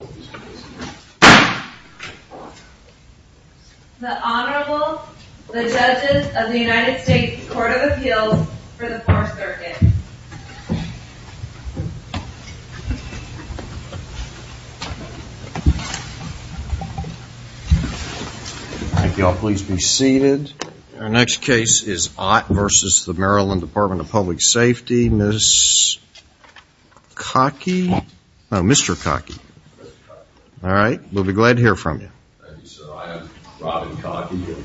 The Honorable, the Judges of the United States Court of Appeals for the 4th Circuit. Would you all please be seated. Our next case is Ott v. Maryland Dept of Public Safety. Ms. Cokie? Mr. Cokie? All right. We'll be glad to hear from you. Thank you, sir. I am Robin Cokie.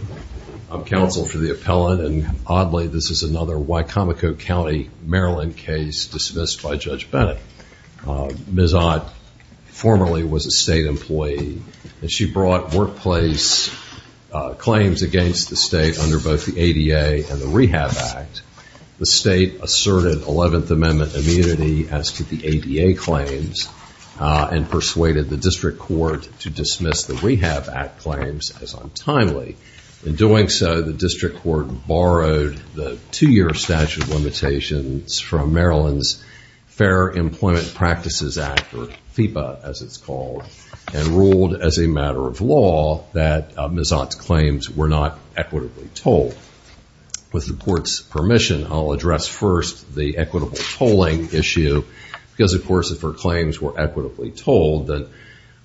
I'm counsel for the appellant, and oddly this is another Wicomico County, Maryland case dismissed by Judge Bennett. Ms. Ott formerly was a state employee, and she brought workplace claims against the state under both the ADA and the Rehab Act. The state asserted 11th Amendment immunity as to the ADA claims and persuaded the district court to dismiss the Rehab Act claims as untimely. In doing so, the district court borrowed the two-year statute of limitations from Maryland's Fair Employment Practices Act, or FIPA as it's called, and ruled as a matter of law that Ms. Ott's claims were not equitably told. With the court's permission, I'll address first the equitable tolling issue because, of course, if her claims were equitably told, then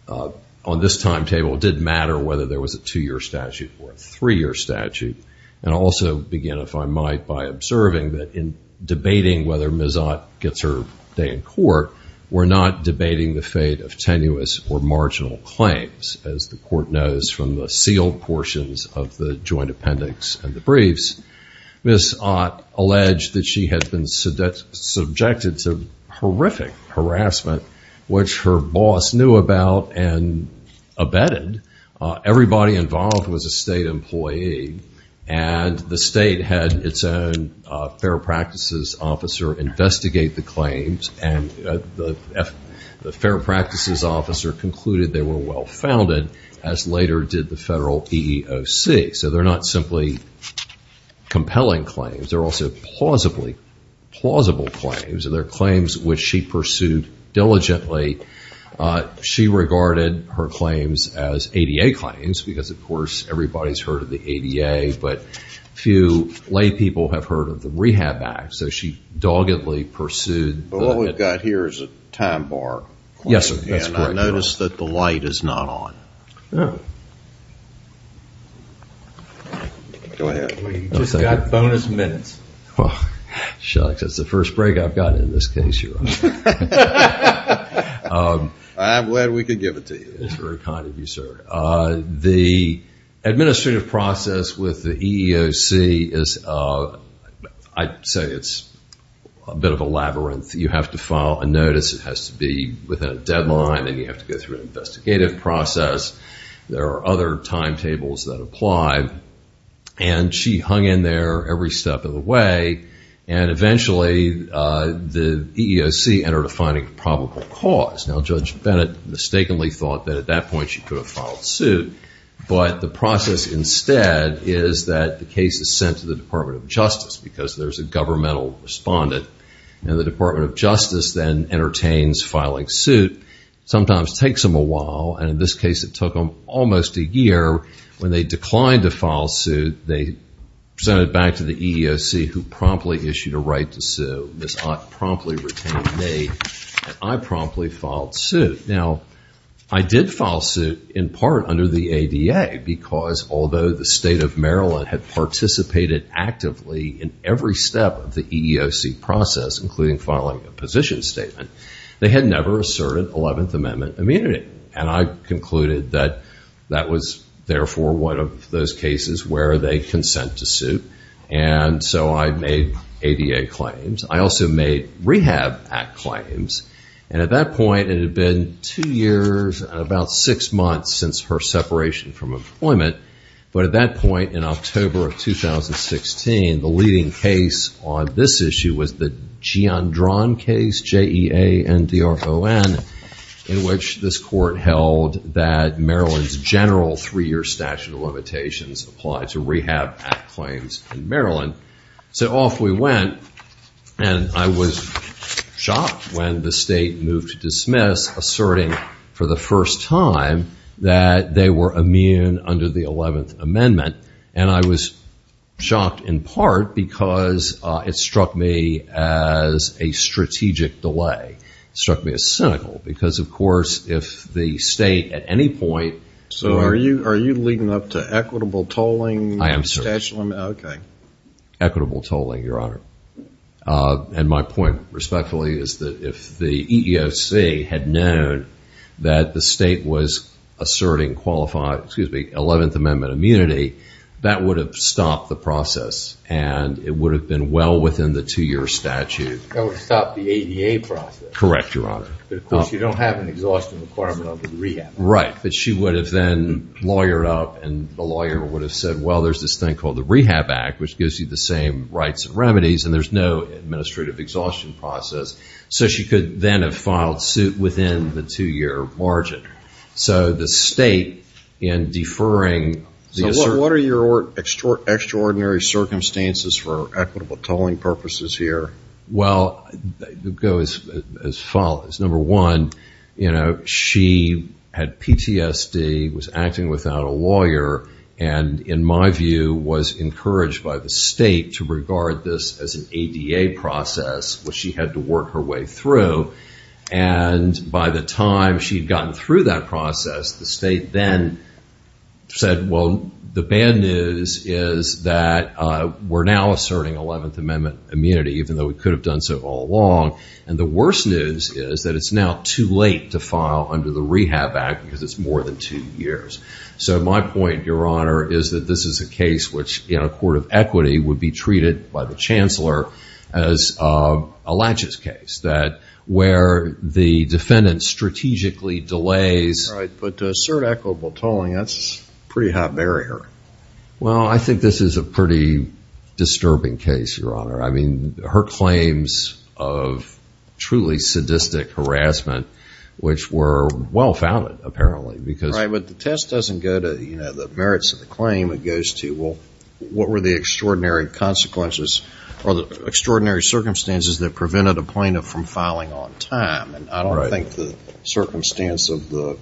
on this timetable it did matter whether there was a two-year statute or a three-year statute. And I'll also begin, if I might, by observing that in debating whether Ms. Ott gets her day in court, we're not debating the fate of tenuous or marginal claims. As the court knows from the sealed portions of the joint appendix and the briefs, Ms. Ott alleged that she had been subjected to horrific harassment, which her boss knew about and abetted. Everybody involved was a state employee, and the state had its own fair practices officer investigate the claims and the fair practices officer concluded they were well-founded, as later did the federal EEOC. So they're not simply compelling claims. They're also plausibly plausible claims, and they're claims which she pursued diligently. She regarded her claims as ADA claims because, of course, everybody's heard of the ADA, but few lay people have heard of the Rehab Act. So she doggedly pursued the- But what we've got here is a time bar. Yes, sir. That's correct, Your Honor. And I notice that the light is not on. Oh. Go ahead. You've just got bonus minutes. Well, shucks. That's the first break I've gotten in this case, Your Honor. I'm glad we could give it to you. That's very kind of you, sir. The administrative process with the EEOC is, I'd say it's a bit of a labyrinth. You have to file a notice. It has to be within a deadline, and you have to go through an investigative process. There are other timetables that apply, and she hung in there every step of the way, and eventually the EEOC entered a finding of probable cause. Now, Judge Bennett mistakenly thought that at that point she could have filed suit, but the process instead is that the case is sent to the Department of Justice because there's a governmental respondent. Now, the Department of Justice then entertains filing suit. Sometimes it takes them a while, and in this case it took them almost a year. When they declined to file suit, they sent it back to the EEOC, who promptly issued a right to sue. Ms. Ott promptly retained a date, and I promptly filed suit. Now, I did file suit in part under the ADA because although the state of Maryland had participated actively in every step of the EEOC process, including filing a position statement, they had never asserted 11th Amendment immunity. And I concluded that that was, therefore, one of those cases where they consent to sue, and so I made ADA claims. I also made Rehab Act claims, and at that point it had been two years and about six months since her separation from employment. But at that point in October of 2016, the leading case on this issue was the Giandron case, J-E-A-N-D-R-O-N, in which this court held that Maryland's general three-year statute of limitations applied to Rehab Act claims in Maryland. So off we went, and I was shocked when the state moved to dismiss, asserting for the first time that they were immune under the 11th Amendment. And I was shocked in part because it struck me as a strategic delay. It struck me as cynical because, of course, if the state at any point... So are you leading up to equitable tolling? I am, sir. Equitable tolling, Your Honor. And my point, respectfully, is that if the EEOC had known that the state was asserting qualified 11th Amendment immunity, that would have stopped the process, and it would have been well within the two-year statute. That would have stopped the ADA process. Correct, Your Honor. But, of course, you don't have an exhaustion requirement under the Rehab Act. Right, but she would have then lawyered up, and the lawyer would have said, well, there's this thing called the Rehab Act, which gives you the same rights and remedies, and there's no administrative exhaustion process. So she could then have filed suit within the two-year margin. So the state, in deferring... So what are your extraordinary circumstances for equitable tolling purposes here? Well, it goes as follows. Number one, you know, she had PTSD, was acting without a lawyer, and in my view was encouraged by the state to regard this as an ADA process, which she had to work her way through. And by the time she had gotten through that process, the state then said, well, the bad news is that we're now asserting 11th Amendment immunity, even though we could have done so all along. And the worst news is that it's now too late to file under the Rehab Act because it's more than two years. So my point, Your Honor, is that this is a case which, in a court of equity, would be treated by the chancellor as a latches case, where the defendant strategically delays... Right, but to assert equitable tolling, that's a pretty hot barrier. Well, I think this is a pretty disturbing case, Your Honor. I mean, her claims of truly sadistic harassment, which were well-founded, apparently, because... This doesn't go to, you know, the merits of the claim. It goes to, well, what were the extraordinary consequences or the extraordinary circumstances that prevented a plaintiff from filing on time? And I don't think the circumstance of the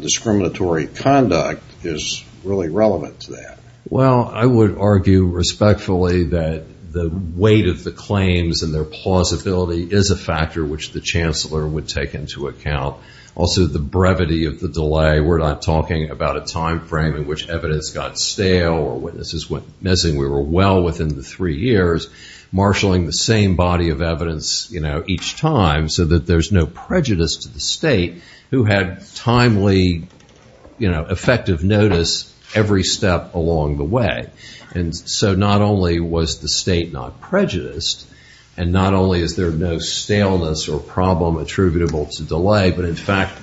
discriminatory conduct is really relevant to that. Well, I would argue respectfully that the weight of the claims and their plausibility is a factor which the chancellor would take into account. Also, the brevity of the delay. We're not talking about a time frame in which evidence got stale or witnesses went missing. We were well within the three years marshalling the same body of evidence, you know, each time so that there's no prejudice to the state who had timely, you know, effective notice every step along the way. And so not only was the state not prejudiced and not only is there no staleness or problem attributable to delay, but in fact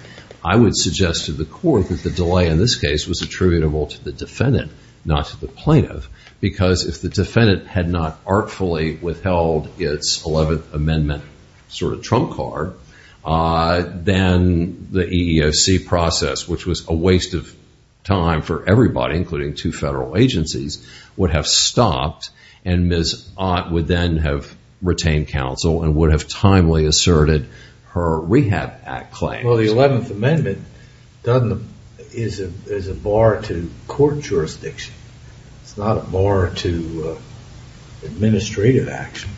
I would suggest to the court that the delay in this case was attributable to the defendant, not to the plaintiff, because if the defendant had not artfully withheld its 11th Amendment sort of trump card, then the EEOC process, which was a waste of time for everybody, including two federal agencies, would have stopped and Ms. Ott would then have retained counsel and would have timely asserted her Rehab Act claims. Well, the 11th Amendment is a bar to court jurisdiction. It's not a bar to administrative action.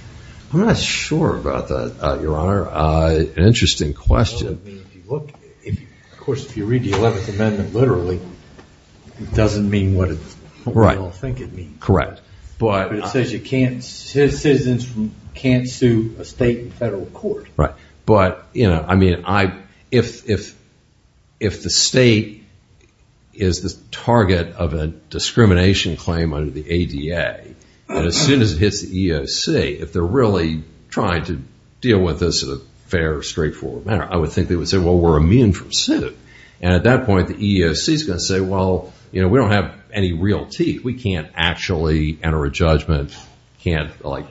I'm not sure about that, Your Honor. An interesting question. Of course, if you read the 11th Amendment literally, it doesn't mean what we all think it means. Correct. But it says citizens can't sue a state and federal court. Right. But, you know, I mean, if the state is the target of a discrimination claim under the ADA and as soon as it hits the EEOC, if they're really trying to deal with this as a fair, straightforward matter, I would think they would say, well, we're immune from suit. And at that point the EEOC is going to say, well, you know, we don't have any real teeth. We can't actually enter a judgment, can't, like,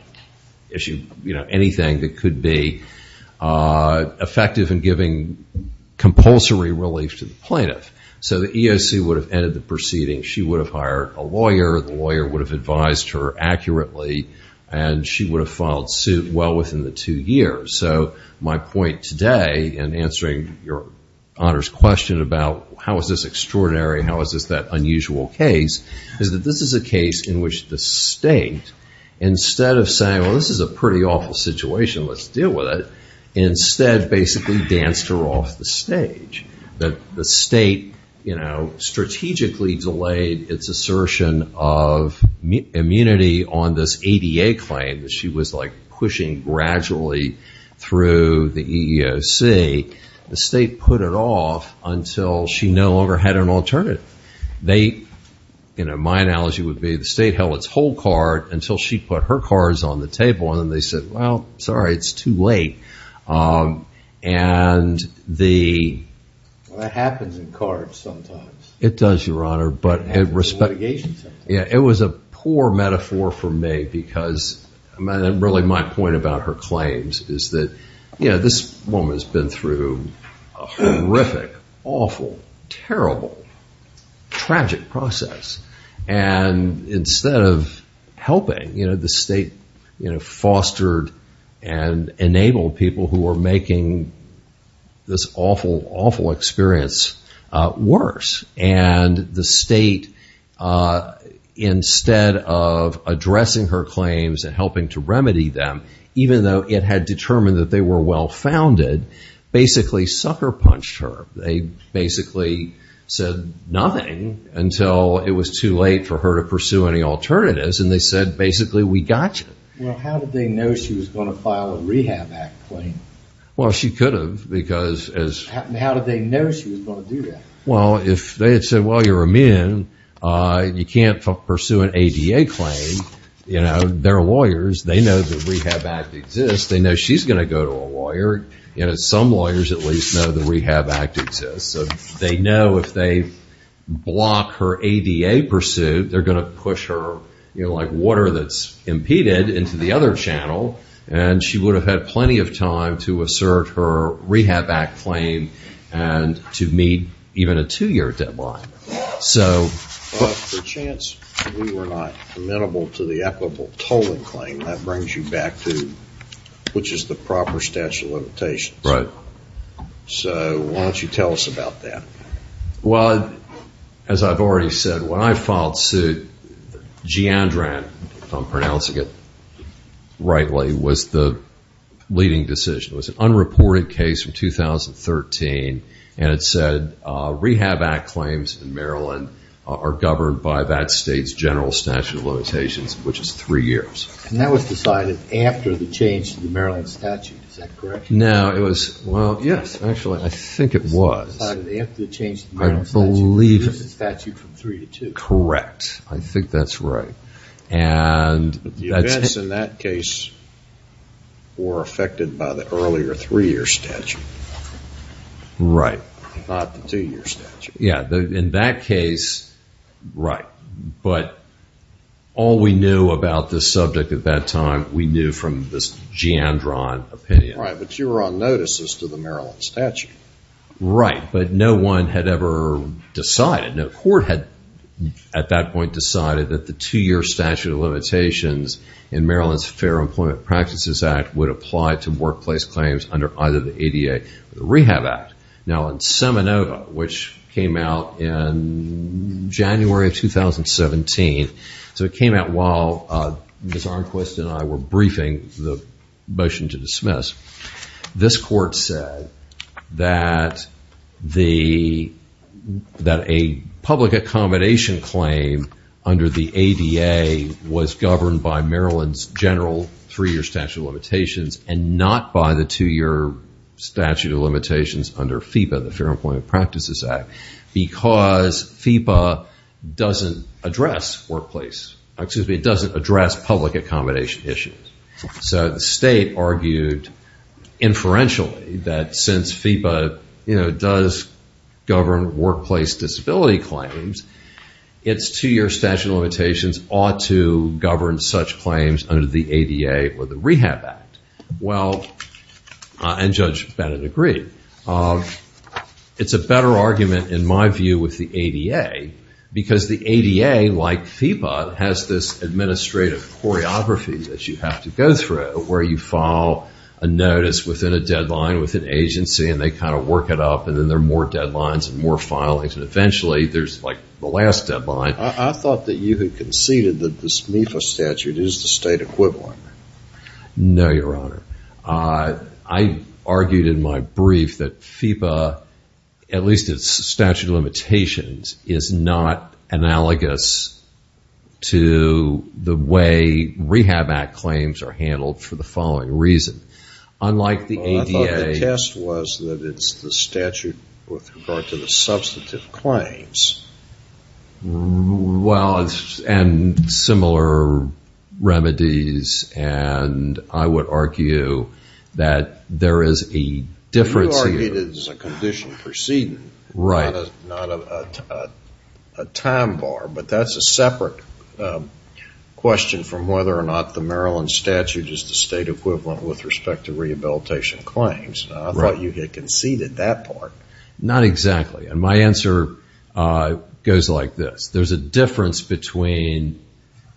issue, you know, anything that could be effective in giving compulsory relief to the plaintiff. So the EEOC would have ended the proceeding. She would have hired a lawyer. The lawyer would have advised her accurately. And she would have filed suit well within the two years. So my point today in answering Your Honor's question about how is this extraordinary, how is this that unusual case, is that this is a case in which the state, instead of saying, well, this is a pretty awful situation, let's deal with it, instead basically danced her off the stage. The state, you know, strategically delayed its assertion of immunity on this ADA claim that she was, like, pushing gradually through the EEOC. The state put it off until she no longer had an alternative. They, you know, my analogy would be the state held its whole card until she put her cards on the table. And then they said, well, sorry, it's too late. And the... That happens in cards sometimes. It does, Your Honor. It happens in litigation sometimes. Yeah, it was a poor metaphor for me because really my point about her claims is that, you know, this woman has been through a horrific, awful, terrible, tragic process. And instead of helping, you know, the state, you know, fostered and enabled people who were making this awful, awful experience worse. And the state, instead of addressing her claims and helping to remedy them, even though it had determined that they were well-founded, basically sucker-punched her. They basically said nothing until it was too late for her to pursue any alternatives. And they said, basically, we got you. Well, how did they know she was going to file a Rehab Act claim? Well, she could have because as... How did they know she was going to do that? Well, if they had said, well, you're a man, you can't pursue an ADA claim, you know, they're lawyers. They know the Rehab Act exists. They know she's going to go to a lawyer. You know, some lawyers at least know the Rehab Act exists. So they know if they block her ADA pursuit, they're going to push her, you know, like water that's impeded into the other channel. And she would have had plenty of time to assert her Rehab Act claim and to meet even a two-year deadline. But for a chance, we were not amenable to the equitable tolling claim. That brings you back to which is the proper statute of limitations. Right. So why don't you tell us about that? Well, as I've already said, when I filed suit, Giandran, if I'm pronouncing it rightly, was the leading decision. It was an unreported case from 2013. And it said Rehab Act claims in Maryland are governed by that state's general statute of limitations, which is three years. And that was decided after the change to the Maryland statute. Is that correct? No, it was, well, yes, actually, I think it was. It was decided after the change to the Maryland statute to reduce the statute from three to two. Correct. I think that's right. The events in that case were affected by the earlier three-year statute. Right. Not the two-year statute. Yeah, in that case, right. But all we knew about this subject at that time, we knew from this Giandran opinion. Right, but you were on notice as to the Maryland statute. Right, but no one had ever decided. No court had, at that point, decided that the two-year statute of limitations in Maryland's Fair Employment Practices Act would apply to workplace claims under either the ADA or the Rehab Act. Now, in Seminole, which came out in January of 2017, so it came out while Ms. Arnquist and I were briefing the motion to dismiss, this court said that a public accommodation claim under the ADA was governed by Maryland's general three-year statute of limitations and not by the two-year statute of limitations under FEPA, the Fair Employment Practices Act, because FEPA doesn't address workplace, excuse me, it doesn't address public accommodation issues. So the state argued inferentially that since FEPA does govern workplace disability claims, its two-year statute of limitations ought to govern such claims under the ADA or the Rehab Act. Well, and Judge Bennett agreed. It's a better argument, in my view, with the ADA because the ADA, like FEPA, has this administrative choreography that you have to go through where you file a notice within a deadline with an agency and they kind of work it up and then there are more deadlines and more filings and eventually there's like the last deadline. I thought that you had conceded that this MIFA statute is the state equivalent. No, Your Honor. I argued in my brief that FEPA, at least its statute of limitations, is not analogous to the way Rehab Act claims are handled for the following reason. Well, I thought the test was that it's the statute with regard to the substantive claims. Well, and similar remedies, and I would argue that there is a difference here. You argued it as a condition preceding, not a time bar. But that's a separate question from whether or not the Maryland statute is the state equivalent with respect to rehabilitation claims. I thought you had conceded that part. Not exactly. And my answer goes like this. There's a difference between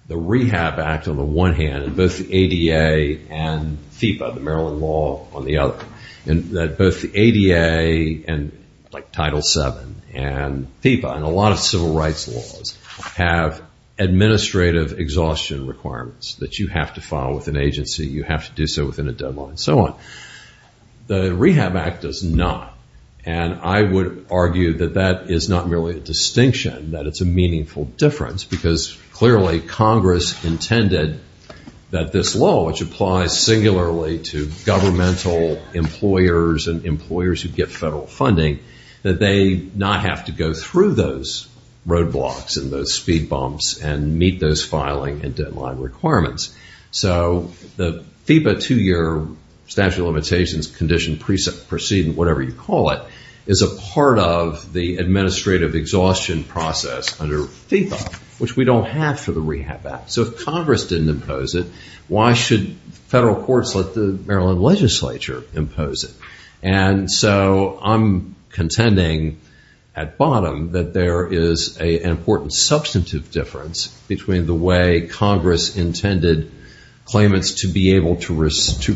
the Rehab Act on the one hand and both the ADA and FEPA, the Maryland law, on the other. And that both the ADA and like Title VII and FEPA and a lot of civil rights laws have administrative exhaustion requirements that you have to file with an agency, you have to do so within a deadline, and so on. The Rehab Act does not. And I would argue that that is not really a distinction, that it's a meaningful difference, because clearly Congress intended that this law, which applies singularly to governmental employers and employers who get federal funding, that they not have to go through those roadblocks and those speed bumps and meet those filing and deadline requirements. So the FEPA two-year statute of limitations condition preceding, whatever you call it, is a part of the administrative exhaustion process under FEPA, which we don't have for the Rehab Act. So if Congress didn't impose it, why should federal courts let the Maryland legislature impose it? And so I'm contending at bottom that there is an important substantive difference between the way Congress intended claimants to be able to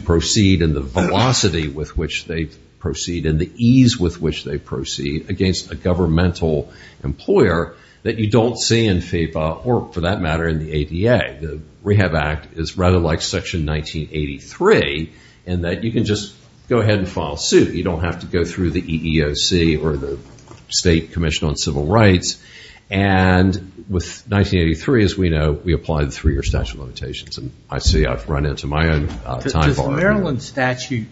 proceed and the velocity with which they proceed and the ease with which they proceed against a governmental employer that you don't see in FEPA or, for that matter, in the ADA. The Rehab Act is rather like Section 1983 in that you can just go ahead and file suit. You don't have to go through the EEOC or the State Commission on Civil Rights. And with 1983, as we know, we apply the three-year statute of limitations. And I see I've run into my own time. Does the Maryland statute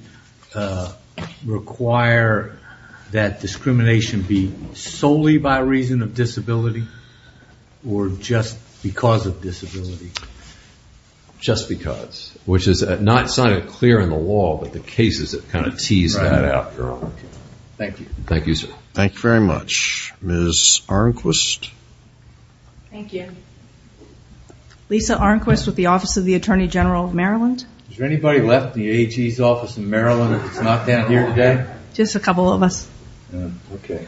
require that discrimination be solely by reason of disability or just because of disability? Just because, which is not signed clear in the law, but the cases that kind of tease that out. Thank you. Thank you, sir. Thank you very much. Ms. Arnquist. Thank you. Lisa Arnquist with the Office of the Attorney General of Maryland. Has there anybody left the AG's office in Maryland that's not down here today? Just a couple of us. Okay.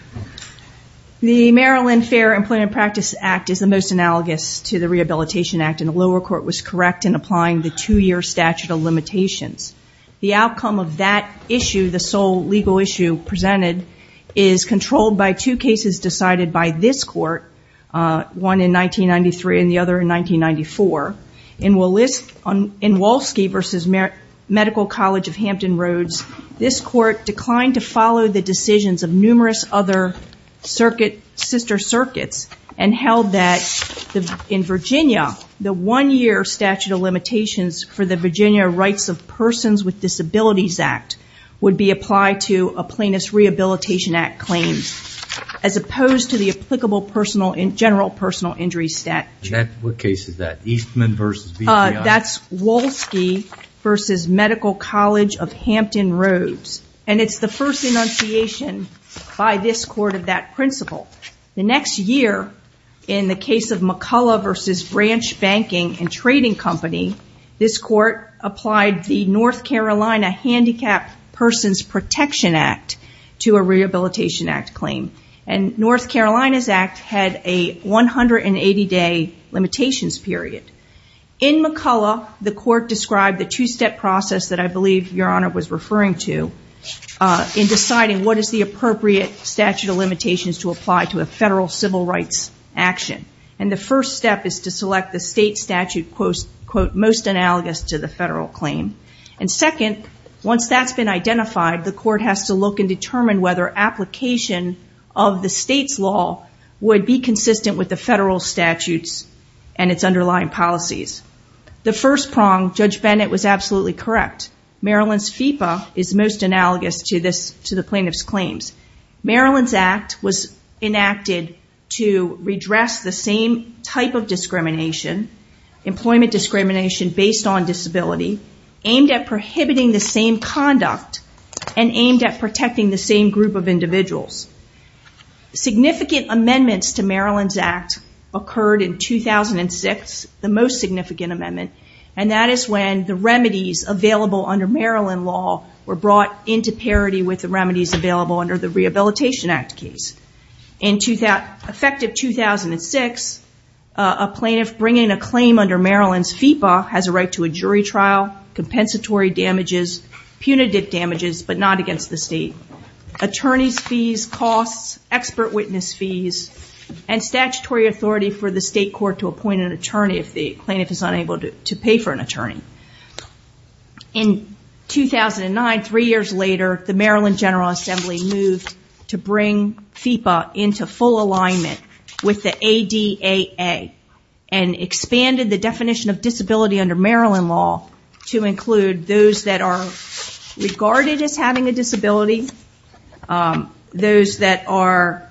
The Maryland Fair Employment Practice Act is the most analogous to the Rehabilitation Act, and the lower court was correct in applying the two-year statute of limitations. The outcome of that issue, the sole legal issue presented, is controlled by two cases decided by this court, one in 1993 and the other in 1994. In Wolski v. Medical College of Hampton Roads, this court declined to follow the decisions of numerous other sister circuits and held that in Virginia the one-year statute of limitations for the Virginia Rights of Persons with Disabilities Act would be applied to a plaintiff's Rehabilitation Act claim, as opposed to the applicable general personal injury statute. What case is that? That's Wolski v. Medical College of Hampton Roads, and it's the first enunciation by this court of that principle. The next year, in the case of McCullough v. Branch Banking and Trading Company, this court applied the North Carolina Handicapped Persons Protection Act to a Rehabilitation Act claim. And North Carolina's act had a 180-day limitations period. In McCullough, the court described the two-step process that I believe Your Honor was referring to in deciding what is the appropriate statute of limitations to apply to a federal civil rights action. And the first step is to select the state statute, quote, most analogous to the federal claim. And second, once that's been identified, the court has to look and determine whether application of the state's law would be consistent with the federal statutes and its underlying policies. The first prong, Judge Bennett was absolutely correct. Maryland's FEPA is most analogous to the plaintiff's claims. Maryland's act was enacted to redress the same type of discrimination, employment discrimination based on disability, aimed at prohibiting the same conduct, and aimed at protecting the same group of individuals. Significant amendments to Maryland's act occurred in 2006, the most significant amendment, and that is when the remedies available under Maryland law were brought into parity with the remedies available under the Rehabilitation Act case. Effective 2006, a plaintiff bringing a claim under Maryland's FEPA has a right to a jury trial, compensatory damages, punitive damages, but not against the state, attorney's fees, costs, expert witness fees, and statutory authority for the state court to appoint an attorney if the plaintiff is unable to pay for an attorney. In 2009, three years later, the Maryland General Assembly moved to bring FEPA into full alignment with the ADAA and expanded the definition of disability under Maryland law to include those that are regarded as having a disability, those that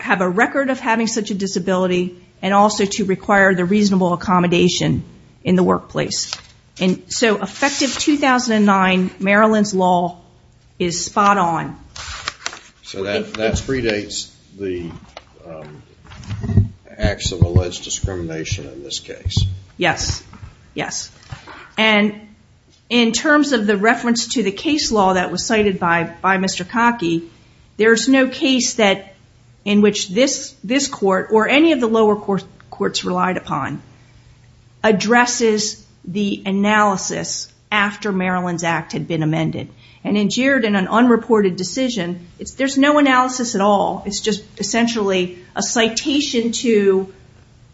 have a record of having such a disability, and also to require the reasonable accommodation in the workplace. And so effective 2009, Maryland's law is spot on. So that predates the acts of alleged discrimination in this case. Yes, yes. And in terms of the reference to the case law that was cited by Mr. Cockey, there's no case in which this court, or any of the lower courts relied upon, addresses the analysis after Maryland's act had been amended. And in Girardin, an unreported decision, there's no analysis at all. It's just essentially a citation to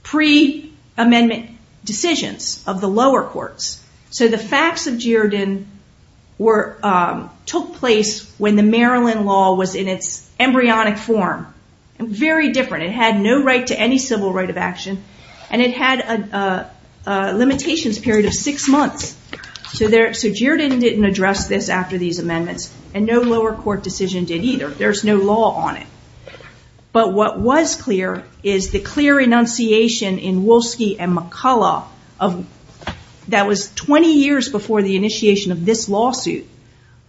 pre-amendment decisions of the lower courts. So the facts of Girardin took place when the Maryland law was in its embryonic form. Very different. It had no right to any civil right of action, and it had a limitations period of six months. So Girardin didn't address this after these amendments, and no lower court decision did either. There's no law on it. But what was clear is the clear enunciation in Wolsky and McCullough that was 20 years before the initiation of this lawsuit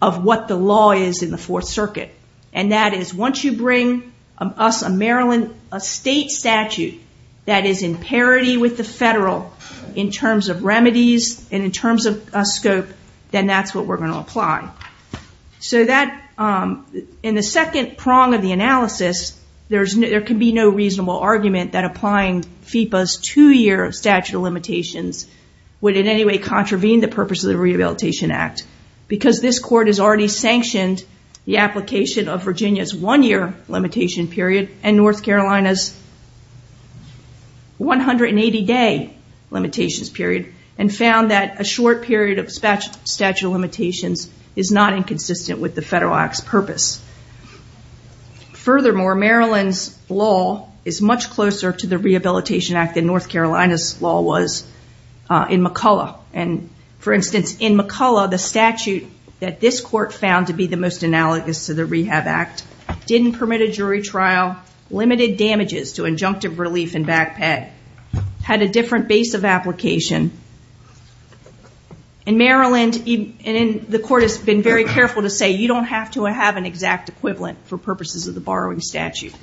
of what the law is in the Fourth Circuit. And that is once you bring us a Maryland state statute that is in parity with the federal in terms of remedies and in terms of scope, then that's what we're going to apply. So in the second prong of the analysis, there can be no reasonable argument that applying FEPA's two-year statute of limitations would in any way contravene the purpose of the Rehabilitation Act because this court has already sanctioned the application of Virginia's one-year limitation period and North Carolina's 180-day limitations period and found that a short period of statute of limitations is not inconsistent with the federal act's purpose. Furthermore, Maryland's law is much closer to the Rehabilitation Act than North Carolina's law was in McCullough. For instance, in McCullough, the statute that this court found to be the most analogous to the Rehab Act didn't permit a jury trial, limited damages to injunctive relief and backpack, had a different base of application. In Maryland, the court has been very careful to say you don't have to have an exact equivalent for purposes of the borrowing statute.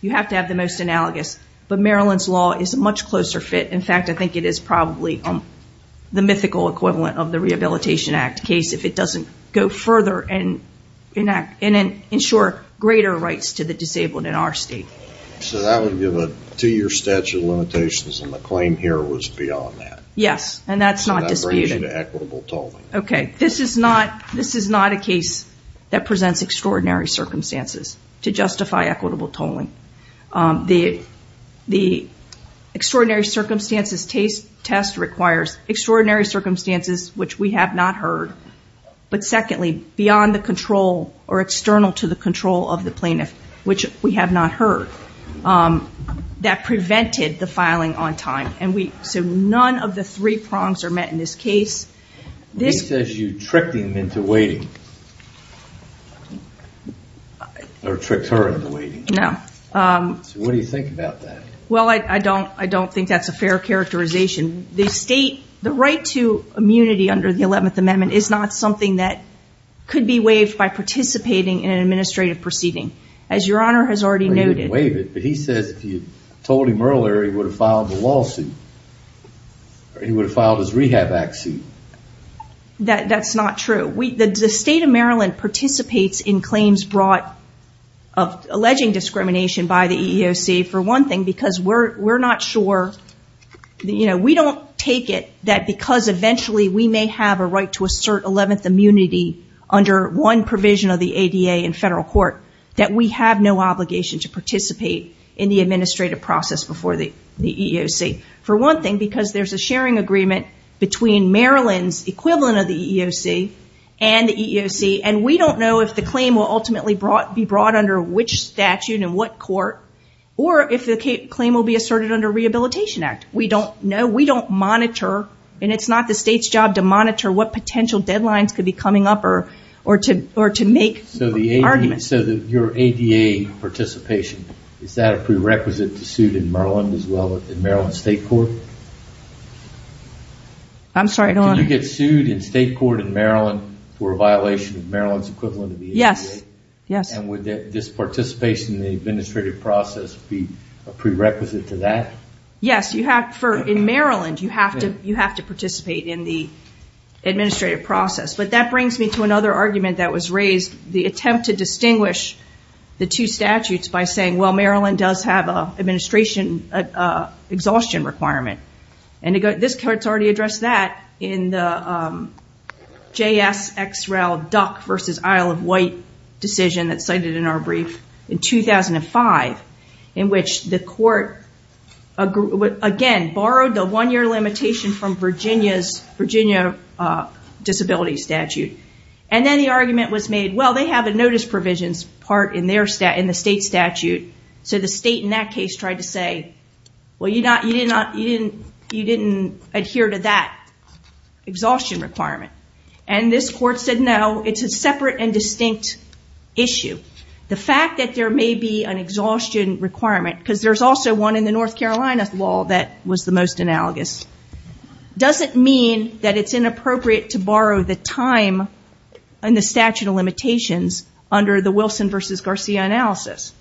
You have to have the most analogous. But Maryland's law is a much closer fit. In fact, I think it is probably the mythical equivalent of the Rehabilitation Act case if it doesn't go further and ensure greater rights to the disabled in our state. So that would give a two-year statute of limitations and the claim here was beyond that. Yes, and that's not disputed. So that brings you to equitable tolling. Okay. This is not a case that presents extraordinary circumstances to justify equitable tolling. The extraordinary circumstances test requires extraordinary circumstances which we have not heard, but secondly, beyond the control or external to the control of the plaintiff, which we have not heard, that prevented the filing on time. So none of the three prongs are met in this case. He says you tricked him into waiting or tricked her into waiting. No. So what do you think about that? Well, I don't think that's a fair characterization. The right to immunity under the 11th Amendment is not something that could be waived by participating in an administrative proceeding. As Your Honor has already noted. Well, you didn't waive it, but he says if you told him earlier he would have filed a lawsuit or he would have filed his Rehab Act suit. That's not true. The state of Maryland participates in claims brought of alleging discrimination by the EEOC, for one thing, because we're not sure. We don't take it that because eventually we may have a right to assert 11th immunity under one provision of the ADA in federal court that we have no obligation to participate in the administrative process before the EEOC. For one thing, because there's a sharing agreement between Maryland's equivalent of the EEOC and the EEOC, and we don't know if the claim will ultimately be brought under which statute and what court, or if the claim will be asserted under Rehabilitation Act. We don't know. We don't monitor, and it's not the state's job to monitor what potential deadlines could be coming up or to make arguments. So your ADA participation, is that a prerequisite to suit in Maryland as well, in Maryland State Court? I'm sorry, Your Honor. Can you get sued in state court in Maryland for a violation of Maryland's equivalent of the ADA? Yes. And would this participation in the administrative process be a prerequisite to that? Yes. In Maryland, you have to participate in the administrative process. But that brings me to another argument that was raised, the attempt to distinguish the two statutes by saying, well, Maryland does have an administration exhaustion requirement. This court's already addressed that in the JSXRAL DUC versus Isle of Wight decision that's cited in our brief in 2005, in which the court, again, borrowed the one-year limitation from Virginia's disability statute. And then the argument was made, well, they have a notice provisions part in the state statute, so the state in that case tried to say, well, you didn't adhere to that exhaustion requirement. And this court said, no, it's a separate and distinct issue. The fact that there may be an exhaustion requirement, because there's also one in the North Carolina law that was the most analogous, doesn't mean that it's inappropriate to borrow the time and the statute of limitations under the Wilson versus Garcia analysis.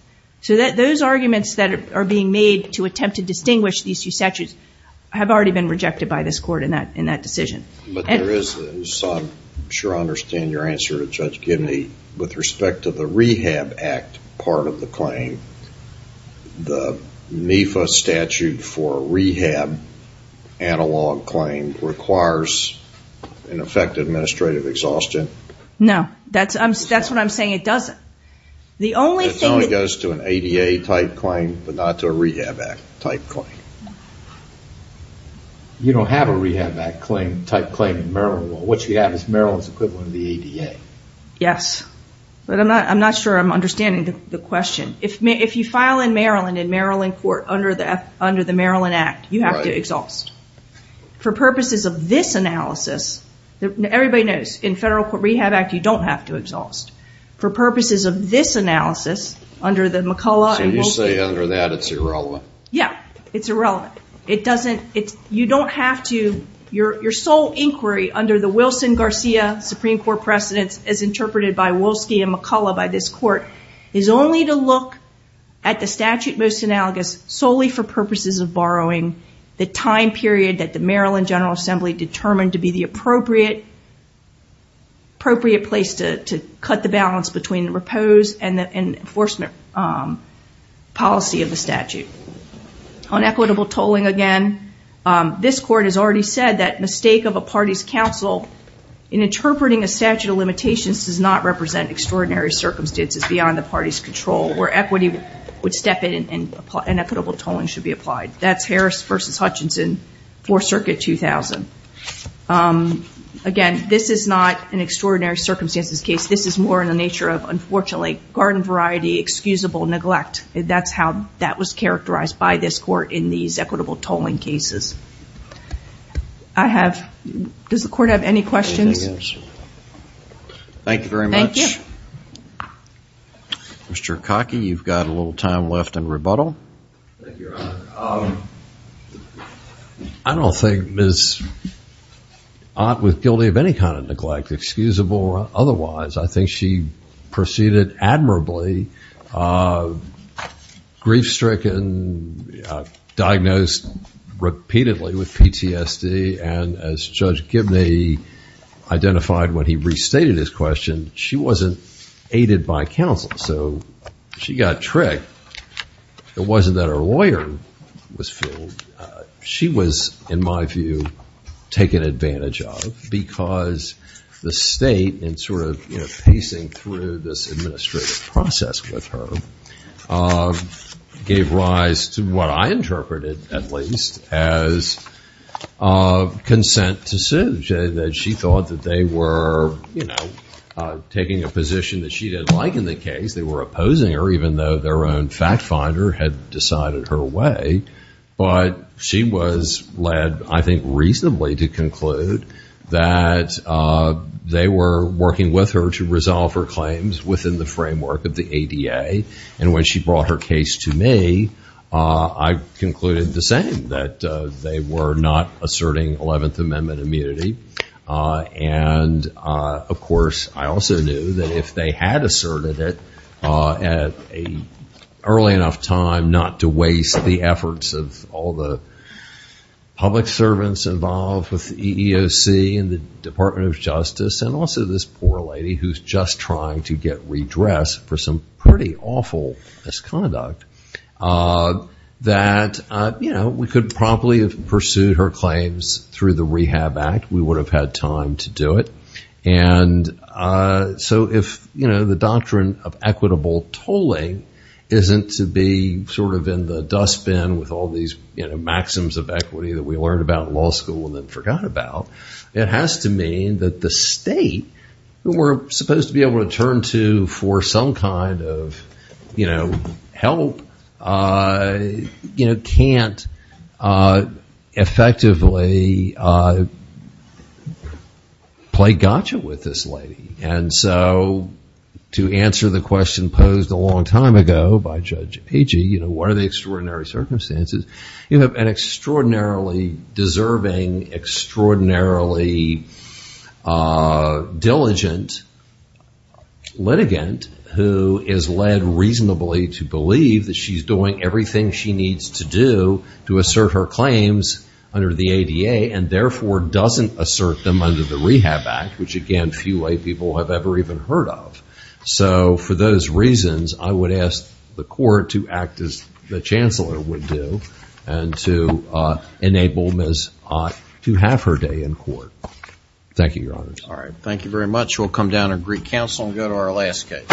So those arguments that are being made to attempt to distinguish these two statutes have already been rejected by this court in that decision. But there is, I'm sure I understand your answer to Judge Gibney, with respect to the Rehab Act part of the claim, the NIFA statute for rehab analog claim requires an effective administrative exhaustion? No, that's what I'm saying, it doesn't. It only goes to an ADA type claim, but not to a Rehab Act type claim. You don't have a Rehab Act type claim in Maryland law. What you have is Maryland's equivalent of the ADA. Yes, but I'm not sure I'm understanding the question. If you file in Maryland in Maryland court under the Maryland Act, you have to exhaust. For purposes of this analysis, everybody knows in Federal Rehab Act you don't have to exhaust. For purposes of this analysis, under the McCullough and Wolski. So you say under that it's irrelevant. Yeah, it's irrelevant. You don't have to. Your sole inquiry under the Wilson-Garcia Supreme Court precedents, as interpreted by Wolski and McCullough by this court, is only to look at the statute most analogous solely for purposes of borrowing the time period that the Maryland General Assembly determined to be the appropriate place to cut the balance between repose and enforcement policy of the statute. On equitable tolling again, this court has already said that mistake of a party's counsel in interpreting a statute of limitations does not represent extraordinary circumstances beyond the party's control where equity would step in and equitable tolling should be applied. That's Harris v. Hutchinson, Fourth Circuit, 2000. Again, this is not an extraordinary circumstances case. This is more in the nature of, unfortunately, garden variety excusable neglect. That's how that was characterized by this court in these equitable tolling cases. Does the court have any questions? Thank you very much. Thank you. Mr. Kaki, you've got a little time left in rebuttal. Thank you, Your Honor. I don't think Ms. Ott was guilty of any kind of neglect, excusable or otherwise. I think she proceeded admirably, grief-stricken, diagnosed repeatedly with PTSD, and as Judge Gibney identified when he restated his question, she wasn't aided by counsel. So she got tricked. It wasn't that her lawyer was fooled. She was, in my view, taken advantage of because the state, in sort of pacing through this administrative process with her, gave rise to what I interpreted, at least, as consent to sue. She thought that they were taking a position that she didn't like in the case. They were opposing her, even though their own fact finder had decided her way. But she was led, I think, reasonably to conclude that they were working with her to resolve her claims within the framework of the ADA. And when she brought her case to me, I concluded the same, that they were not asserting 11th Amendment immunity. And, of course, I also knew that if they had asserted it at an early enough time, not to waste the efforts of all the public servants involved with EEOC and the Department of Justice and also this poor lady who's just trying to get redressed for some pretty awful misconduct, that we could probably have pursued her claims through the Rehab Act. We would have had time to do it. And so if the doctrine of equitable tolling isn't to be sort of in the dustbin with all these maxims of equity that we learned about in law school and then forgot about, it has to mean that the state, who we're supposed to be able to turn to for some kind of help, can't effectively play gotcha with this lady. And so to answer the question posed a long time ago by Judge Agee, what are the extraordinary circumstances? You have an extraordinarily deserving, extraordinarily diligent litigant who is led reasonably to believe that she's doing everything she needs to do to assert her claims under the ADA and therefore doesn't assert them under the Rehab Act, which, again, few lay people have ever even heard of. So for those reasons, I would ask the court to act as the Chancellor would do and to enable Ms. Ott to have her day in court. Thank you, Your Honors. All right. Thank you very much. We'll come down and greet counsel and go to our last case.